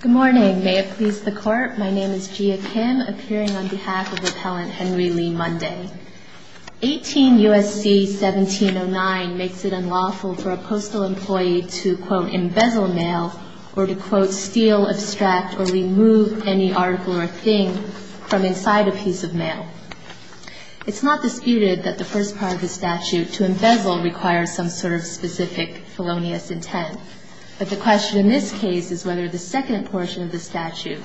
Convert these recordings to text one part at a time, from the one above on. Good morning may it please the court my name is Jia Kim appearing on behalf of appellant Henry Lee Monday. 18 U.S.C. 1709 makes it unlawful for a postal employee to quote embezzle mail or to quote steal abstract or remove any article or thing from inside a piece of mail. It's not disputed that the first part of the statute to embezzle requires some sort of specific felonious intent but the question in this case is whether the second portion of the statute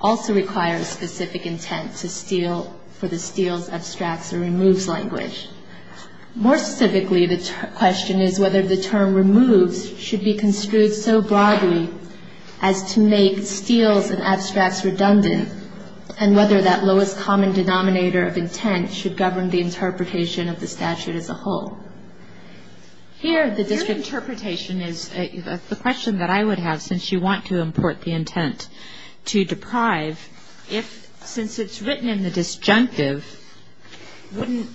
also requires specific intent to steal for the steals abstracts or removes language. More specifically the question is whether the term removes should be construed so broadly as to make steals and abstracts redundant and whether that lowest common denominator of intent should govern the interpretation of the that I would have since you want to import the intent to deprive if since it's written in the disjunctive wouldn't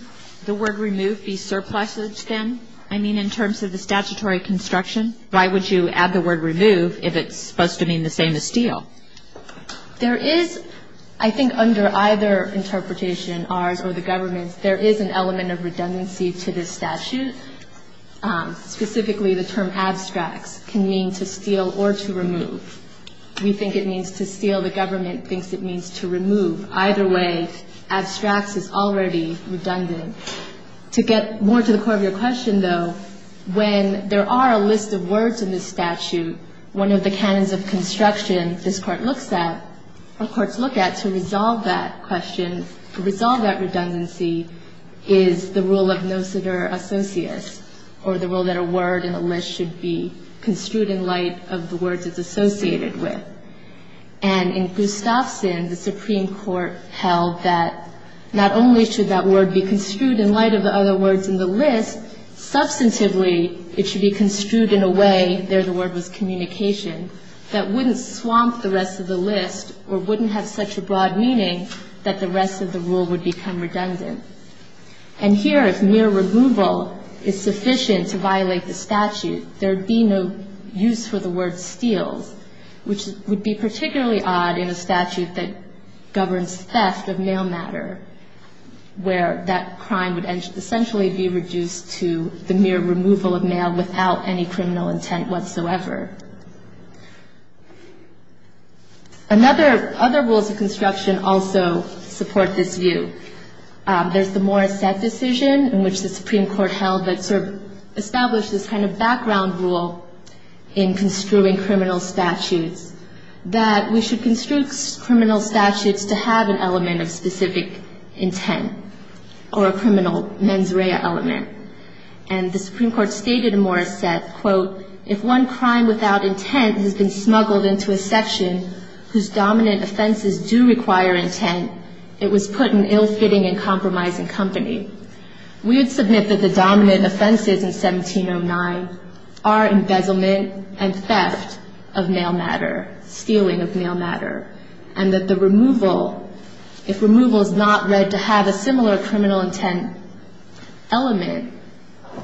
the word remove be surpluses then I mean in terms of the statutory construction why would you add the word remove if it's supposed to mean the same as steal. There is I think under either interpretation ours or the government's there is an element of redundancy to this statute specifically the term abstracts can mean to steal or to remove. We think it means to steal the government thinks it means to remove either way abstracts is already redundant. To get more to the core of your question though when there are a list of words in this statute one of the canons of construction this court looks at or courts look at to resolve that question to resolve that redundancy is the rule of their associates or the rule that a word in a list should be construed in light of the words it's associated with. And in Gustafson the Supreme Court held that not only should that word be construed in light of the other words in the list substantively it should be construed in a way there the word was communication that wouldn't swamp the rest of the list or wouldn't have such a broad meaning that the rest of the rule would become redundant. And here if mere removal is sufficient to violate the statute there would be no use for the word steals which would be particularly odd in a statute that governs theft of mail matter where that crime would essentially be reduced to the mere removal of mail without any criminal intent whatsoever. Another other rules of construction also support this view. There's the Morris Seth decision in which the Supreme Court held that sort of established this kind of background rule in construing criminal statutes that we should construe criminal statutes to have an element of specific intent or a criminal mens rea element. And the Supreme Court stated in Morris Seth quote if one crime without intent has been smuggled into a section whose dominant offenses do require intent it was put in ill-fitting and compromising company. We would submit that the dominant offenses in 1709 are embezzlement and theft of mail matter, stealing of mail matter and that the removal if removal is not read to have a similar criminal intent element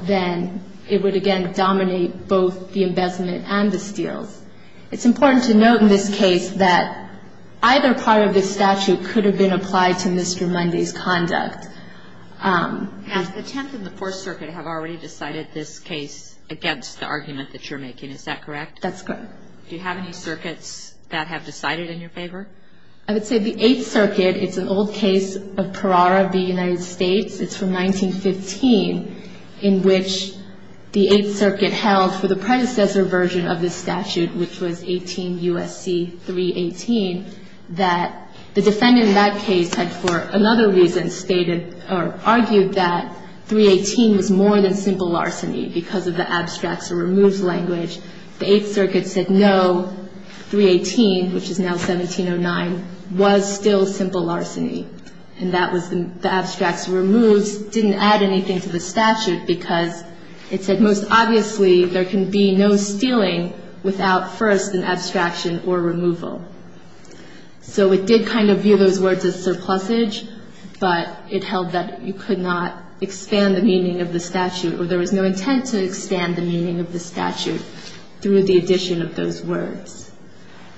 then it would again dominate both the statute and the steals. It's important to note in this case that either part of this statute could have been applied to Mr. Mundy's conduct. And the Tenth and the Fourth Circuit have already decided this case against the argument that you're making. Is that correct? That's correct. Do you have any circuits that have decided in your favor? I would say the Eighth Circuit. It's an old case of Parara v. United States. It's from 1915 in which the Eighth Circuit held for the predecessor version of the statute which was 18 U.S.C. 318 that the defendant in that case had for another reason stated or argued that 318 was more than simple larceny because of the abstracts or removes language. The Eighth Circuit said no, 318 which is now 1709 was still simple larceny. And that was the abstracts or removes didn't add anything to the statute because it said most obviously there can be no stealing without first an abstraction or removal. So it did kind of view those words as surplusage, but it held that you could not expand the meaning of the statute or there was no intent to expand the meaning of the statute through the addition of those words.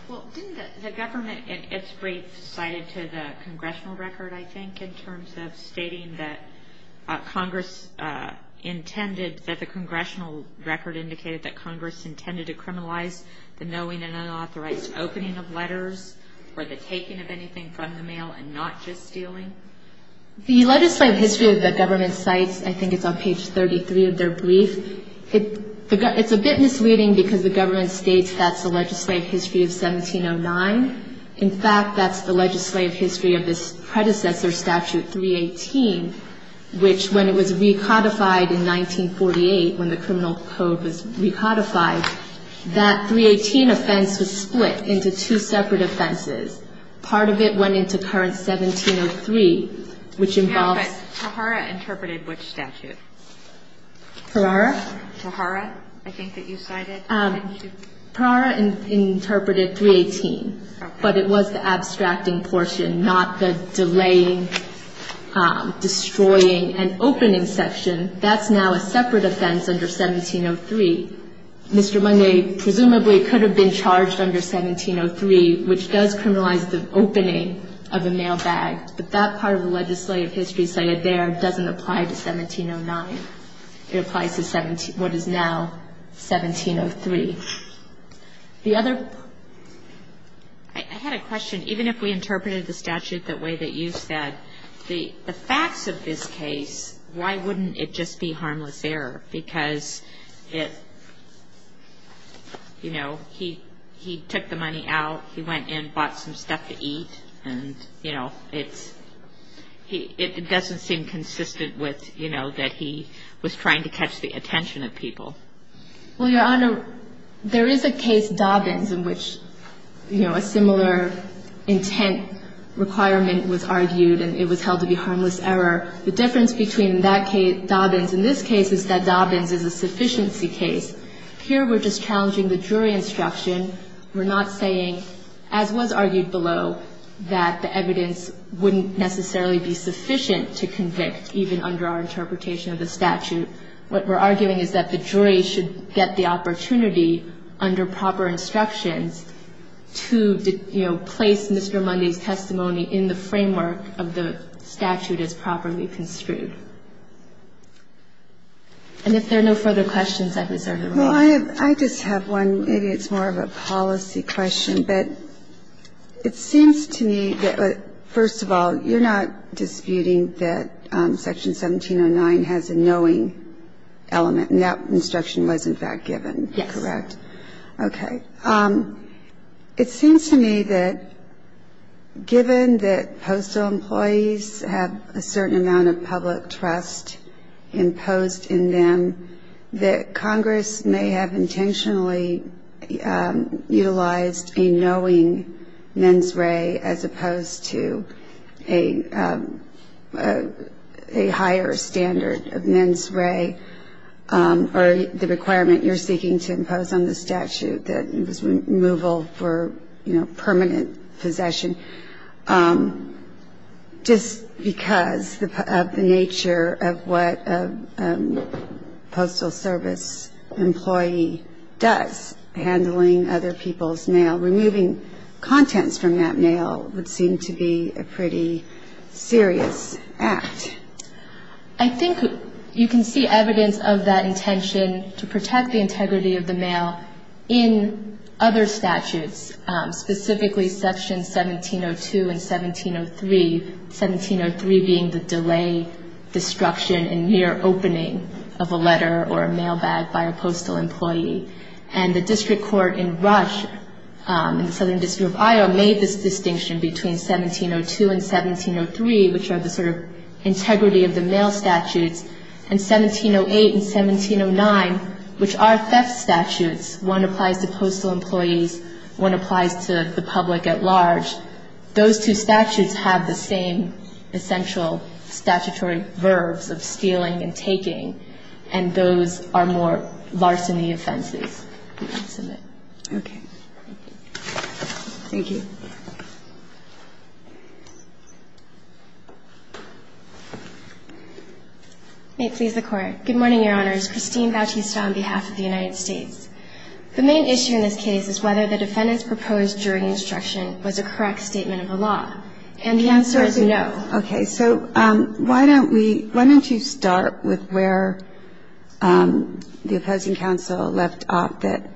Well, didn't the government in its brief cited to the congressional record, I think, in terms of stating that Congress intended, that the congressional record indicated that Congress intended to criminalize the knowing and unauthorized opening of letters or the taking of anything from the mail and not just stealing? The legislative history of the government cites, I think it's on page 33 of their brief, it's a bit misleading because the government states that's the legislative history of this predecessor statute, 318, which when it was recodified in 1948 when the criminal code was recodified, that 318 offense was split into two separate offenses. Part of it went into current 1703, which involves ---- But Tahara interpreted which statute? Tahara? Tahara, I think that you cited. Tahara interpreted 318, but it was the abstracting portion, not the delaying, destroying, and opening section. That's now a separate offense under 1703. Mr. Munway presumably could have been charged under 1703, which does criminalize the opening of a mail bag, but that part of the legislative history cited there doesn't apply to 1709. It applies to what is now 1703. The other ---- I had a question. Even if we interpreted the statute the way that you said, the facts of this case, why wouldn't it just be harmless error? Because it, you know, he took the money out, he went in, bought some stuff to eat, and, you know, it's he ---- it doesn't seem consistent with, you know, that he was trying to catch the attention of people. Well, Your Honor, there is a case, Dobbins, in which, you know, a similar intent requirement was argued, and it was held to be harmless error. The difference between that case, Dobbins, and this case is that Dobbins is a sufficiency case. Here we're just challenging the jury instruction. We're not saying, as was argued below, that the evidence wouldn't necessarily be sufficient to convict, even under our interpretation of the statute. What we're arguing is that the jury should get the opportunity, under proper instructions, to, you know, place Mr. Mundy's testimony in the framework of the statute as properly construed. And if there are no further questions, I'm sorry to interrupt. I just have one. Maybe it's more of a policy question, but it seems to me that, first of all, you're not disputing that Section 1709 has a knowing element, and that instruction was, in fact, given, correct? Yes. Okay. It seems to me that given that postal employees have a certain amount of public trust imposed in them, that Congress may have intentionally utilized a knowing mens re as opposed to a higher standard of mens re or the requirement you're seeking to impose on the statute, that it was removal for, you know, permanent possession. Just because of the nature of what a postal service employee does, handling other people's mail, removing contents from that mail would seem to be a pretty serious act. I think you can see evidence of that intention to protect the integrity of the mail in other statutes, specifically Section 1702 and 1703, 1703 being the delay, destruction, and near opening of a letter or a mail bag by a postal employee. And the district court in Russia, in the Southern District of Iowa, made this distinction between 1702 and 1703, which are the sort of integrity of the mail statutes, and 1708 and 1709, which are theft statutes. One applies to postal employees, one applies to the public at large. Those two statutes have the same essential statutory verbs of stealing and taking, and those are more larceny offenses. Okay. Thank you. May it please the Court. Good morning, Your Honor. Good morning, Your Honors. Christine Bautista on behalf of the United States. The main issue in this case is whether the defendant's proposed jury instruction was a correct statement of the law. And the answer is no. Okay. So why don't we, why don't you start with where the opposing counsel left off, that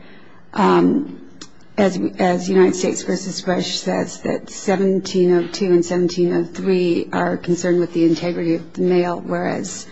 as United States v. Rush says that 1702 and 1703 are concerned with the integrity of the mail, whereas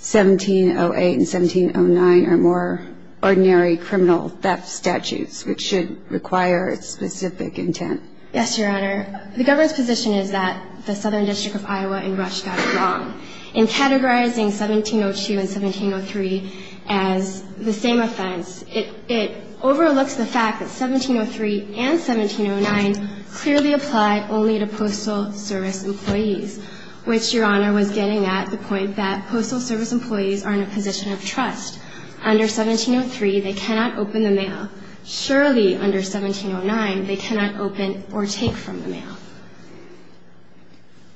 1708 and 1709 are more ordinary criminal theft statutes, which should require specific intent. Yes, Your Honor. The government's position is that the Southern District of Iowa and Rush got it wrong. In categorizing 1702 and 1703 as the same offense, it overlooks the fact that 1703 and 1709 clearly apply only to postal service employees, which Your Honor was getting at, the point that postal service employees are in a position of trust. Under 1703, they cannot open the mail. Surely, under 1709, they cannot open or take from the mail.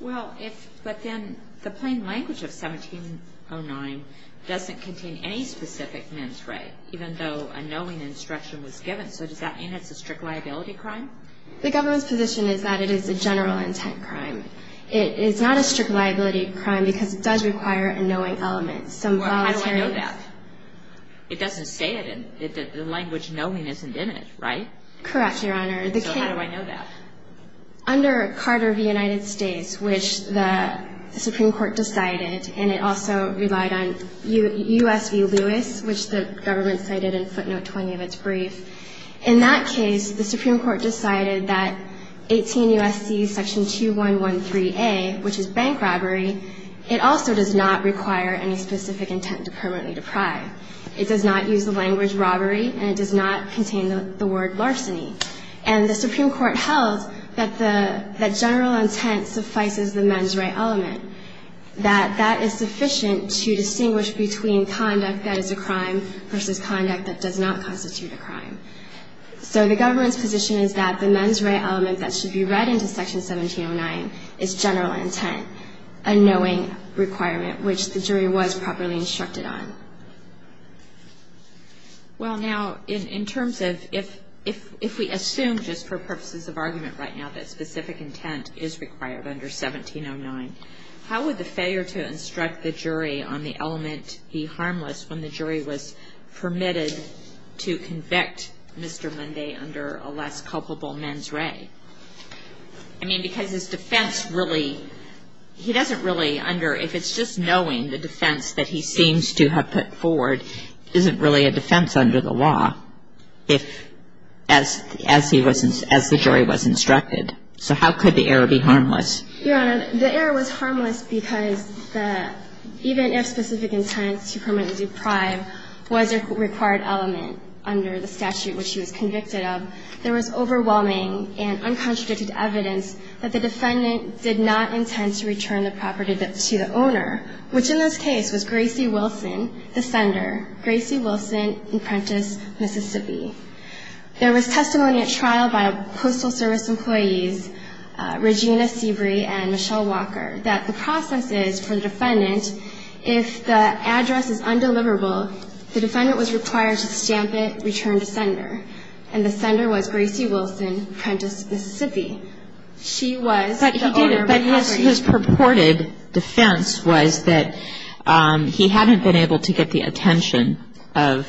Well, if, but then the plain language of 1709 doesn't contain any specific men's right, even though a knowing instruction was given. So does that mean it's a strict liability crime? The government's position is that it is a general intent crime. It is not a strict liability crime because it does require a knowing element. Well, how do I know that? It doesn't say it. The language knowing isn't in it, right? Correct, Your Honor. So how do I know that? Under Carter v. United States, which the Supreme Court decided, and it also relied on U.S. v. Lewis, which the government cited in footnote 20 of its brief, in that case, the Supreme Court decided that 18 U.S.C. section 2113A, which is bank robbery, it also does not require any specific intent to permanently deprive. It does not use the language robbery, and it does not contain the word larceny. And the Supreme Court held that the general intent suffices the men's right element, that that is sufficient to distinguish between conduct that is a crime versus conduct that does not constitute a crime. So the government's position is that the men's right element that should be read into Section 1709 is general intent, a knowing requirement, which the jury was properly instructed on. Well, now, in terms of if we assume just for purposes of argument right now that specific intent is required under 1709, how would the failure to instruct the jury on the element be harmless when the jury was permitted to convict Mr. Munday under a less culpable men's right? I mean, because his defense really, he doesn't really under, if it's just knowing the element forward, isn't really a defense under the law if, as he was, as the jury was instructed. So how could the error be harmless? Your Honor, the error was harmless because the, even if specific intent to permanently deprive was a required element under the statute which he was convicted of, there was overwhelming and uncontradicted evidence that the defendant did not intend to return the owner, which in this case was Gracie Wilson, the sender, Gracie Wilson, Apprentice, Mississippi. There was testimony at trial by a Postal Service employee, Regina Seabury and Michelle Walker, that the process is for the defendant, if the address is undeliverable, the defendant was required to stamp it, return to sender, and the sender was Gracie Wilson, Apprentice, Mississippi. She was the owner. But his purported defense was that he hadn't been able to get the attention of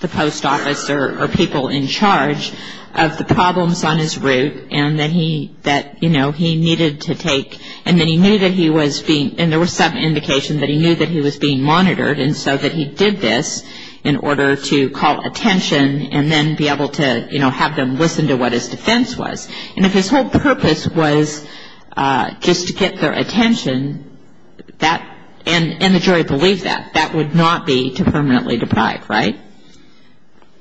the post office or people in charge of the problems on his route and that he, that, you know, he needed to take, and that he knew that he was being, and there was some indication that he knew that he was being monitored and so that he did this in order to call attention and then be able to, you know, have them listen to what his defense was. And if his whole purpose was just to get their attention, that, and the jury believed that, that would not be to permanently deprive, right?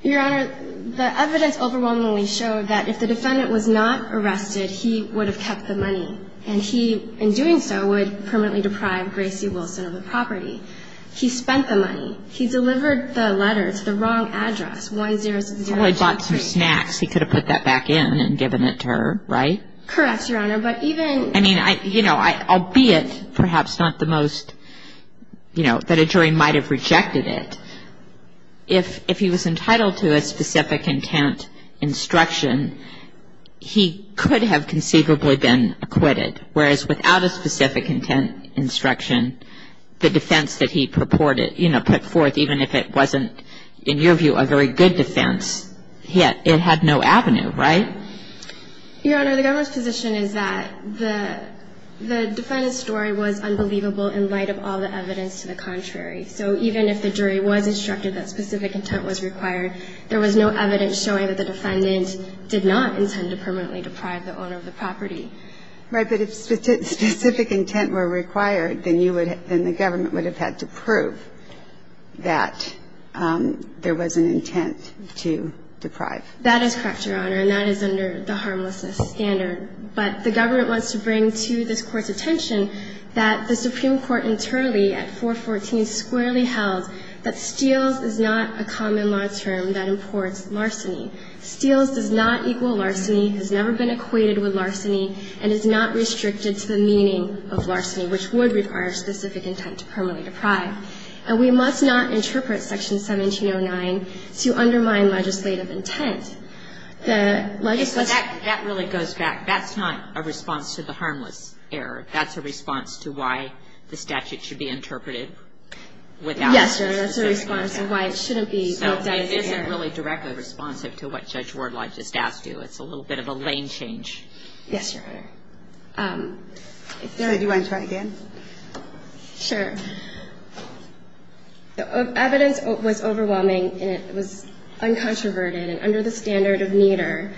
Your Honor, the evidence overwhelmingly showed that if the defendant was not arrested, he would have kept the money, and he, in doing so, would permanently deprive Gracie Wilson of the property. He spent the money. He delivered the letter to the wrong address, 1060. He probably bought some snacks. He could have put that back in and given it to her, right? Correct, Your Honor, but even I mean, I, you know, albeit perhaps not the most, you know, that a jury might have rejected it, if, if he was entitled to a specific intent instruction, he could have conceivably been acquitted, whereas without a specific intent instruction, the defense that he purported, you know, put forth, even if it wasn't, in your view, a very good defense, it had no avenue, right? Your Honor, the government's position is that the, the defendant's story was unbelievable in light of all the evidence to the contrary. So even if the jury was instructed that specific intent was required, there was no evidence showing that the defendant did not intend to permanently deprive the owner of the property. Right, but if specific intent were required, then you would, then the government would have had to prove that there was an intent to deprive. That is correct, Your Honor, and that is under the harmlessness standard. But the government wants to bring to this Court's attention that the Supreme Court internally at 414 squarely held that steals is not a common law term that imports larceny. Steals does not equal larceny, has never been equated with larceny, and is not restricted to the meaning of larceny, which would require specific intent to permanently deprive. And we must not interpret Section 1709 to undermine legislative intent. The legislature — That really goes back. That's not a response to the harmless error. That's a response to why the statute should be interpreted without specific intent. Yes, Your Honor. That's a response to why it shouldn't be — So it isn't really directly responsive to what Judge Wardlaw just asked you. It's a little bit of a lane change. Yes, Your Honor. Sarah, do you want to try again? Sure. The evidence was overwhelming, and it was uncontroverted. And under the standard of Nieder,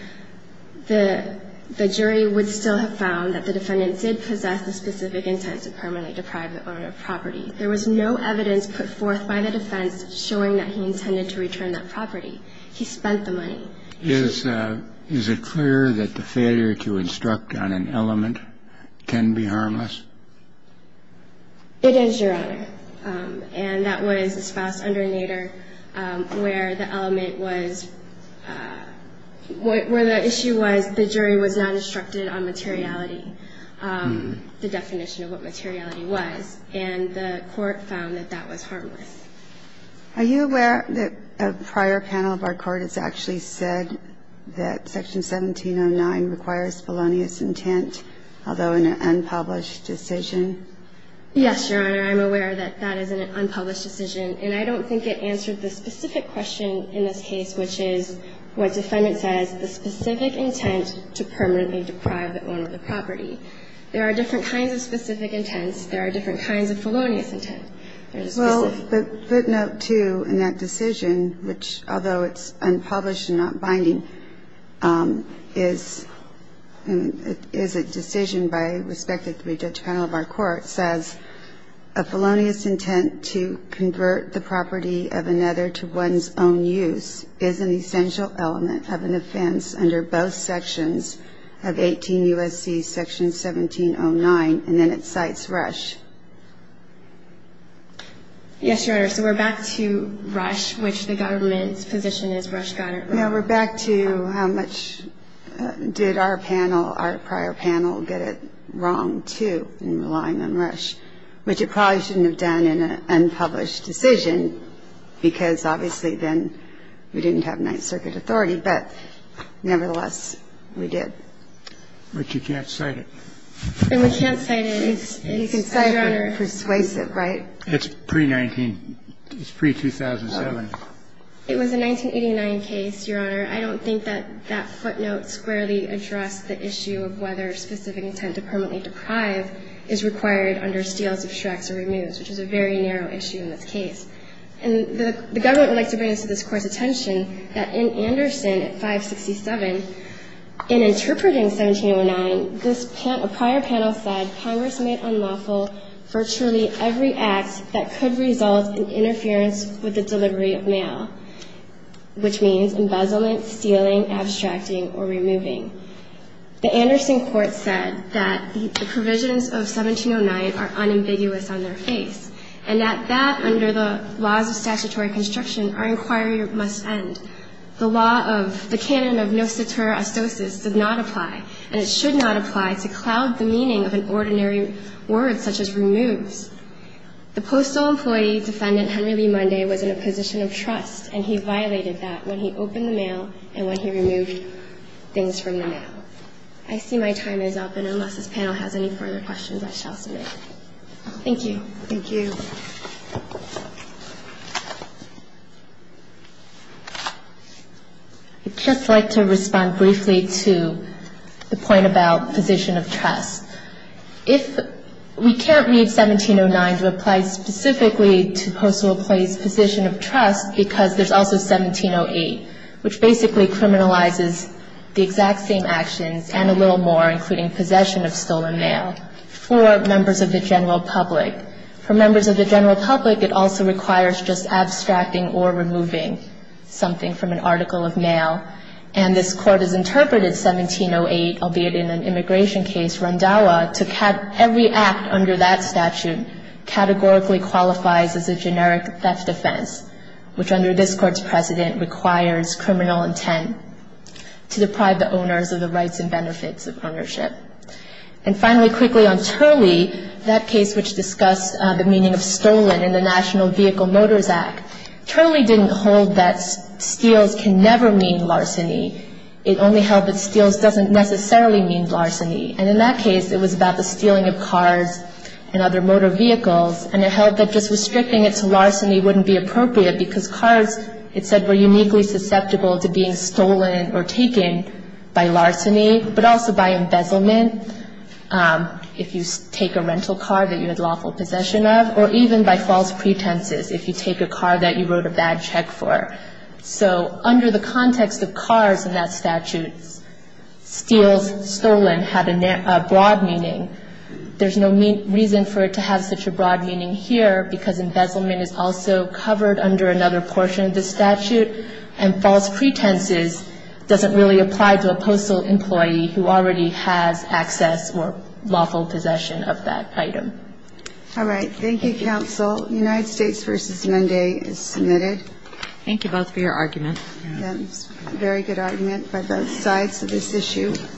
the jury would still have found that the defendant did possess the specific intent to permanently deprive the owner of property. There was no evidence put forth by the defense showing that he intended to return that property. He spent the money. Is it clear that the failure to instruct on an element can be harmless? It is, Your Honor. And that was the spouse under Nieder, where the element was — where the issue was the jury was not instructed on materiality, the definition of what materiality was. And the Court found that that was harmless. Are you aware that a prior panel of our Court has actually said that Section 1709 requires felonious intent, although in an unpublished decision? Yes, Your Honor. I'm aware that that is an unpublished decision. And I don't think it answered the specific question in this case, which is what defendant says, the specific intent to permanently deprive the owner of the property. There are different kinds of specific intents. There are different kinds of felonious intent. Well, the footnote, too, in that decision, which, although it's unpublished and not binding, is a decision by a respected three-judge panel of our Court, says, a felonious intent to convert the property of another to one's own use is an essential element of an offense under both sections of 18 U.S.C. Section 1709. And then it cites Rush. Yes, Your Honor. So we're back to Rush, which the government's position is Rush got it wrong. No, we're back to how much did our panel, our prior panel, get it wrong, too, in relying on Rush, which it probably shouldn't have done in an unpublished decision, because obviously then we didn't have Ninth Circuit authority. But nevertheless, we did. But you can't cite it. And we can't cite it. You can cite it. It's persuasive, right? It's pre-19. It's pre-2007. It was a 1989 case, Your Honor. I don't think that that footnote squarely addressed the issue of whether specific intent to permanently deprive is required under Steele's, obstructs, or removes, which is a very narrow issue in this case. And the government would like to bring this to this Court's attention that in Anderson at 567, in interpreting 1709, this prior panel said Congress made unlawful virtually every act that could result in interference with the delivery of mail, which means embezzlement, stealing, abstracting, or removing. The Anderson court said that the provisions of 1709 are unambiguous on their face and that that, under the laws of statutory construction, our inquiry must end. The law of the canon of nociter astoces did not apply, and it should not apply to cloud the meaning of an ordinary word such as removes. The postal employee defendant, Henry Lee Monday, was in a position of trust, and he violated that when he opened the mail and when he removed things from the mail. I see my time is up, and unless this panel has any further questions, I shall submit. Thank you. Thank you. I'd just like to respond briefly to the point about position of trust. If we can't read 1709 to apply specifically to postal employee's position of trust because there's also 1708, which basically criminalizes the exact same actions and a little more, including possession of stolen mail, for members of the general public. For members of the general public, it also requires just abstracting or removing something from an article of mail. And this Court has interpreted 1708, albeit in an immigration case, Rondawa, to have every act under that statute categorically qualifies as a generic theft offense, which under this Court's precedent requires criminal intent to deprive the owners of the rights and benefits of ownership. And finally, quickly on Turley, that case which discussed the meaning of stolen in the National Vehicle Motors Act, Turley didn't hold that steals can never mean larceny. It only held that steals doesn't necessarily mean larceny. And in that case, it was about the stealing of cars and other motor vehicles, and it held that just restricting it to larceny wouldn't be appropriate because cars, it said, were uniquely susceptible to being stolen or taken by larceny, but also by embezzlement, if you take a rental car that you had lawful possession of, or even by false pretenses, if you take a car that you wrote a bad check for. So under the context of cars in that statute, steals stolen had a broad meaning. There's no reason for it to have such a broad meaning here because embezzlement is also covered under another portion of the statute, and false pretenses doesn't really apply to a postal employee who already has access or lawful possession of that item.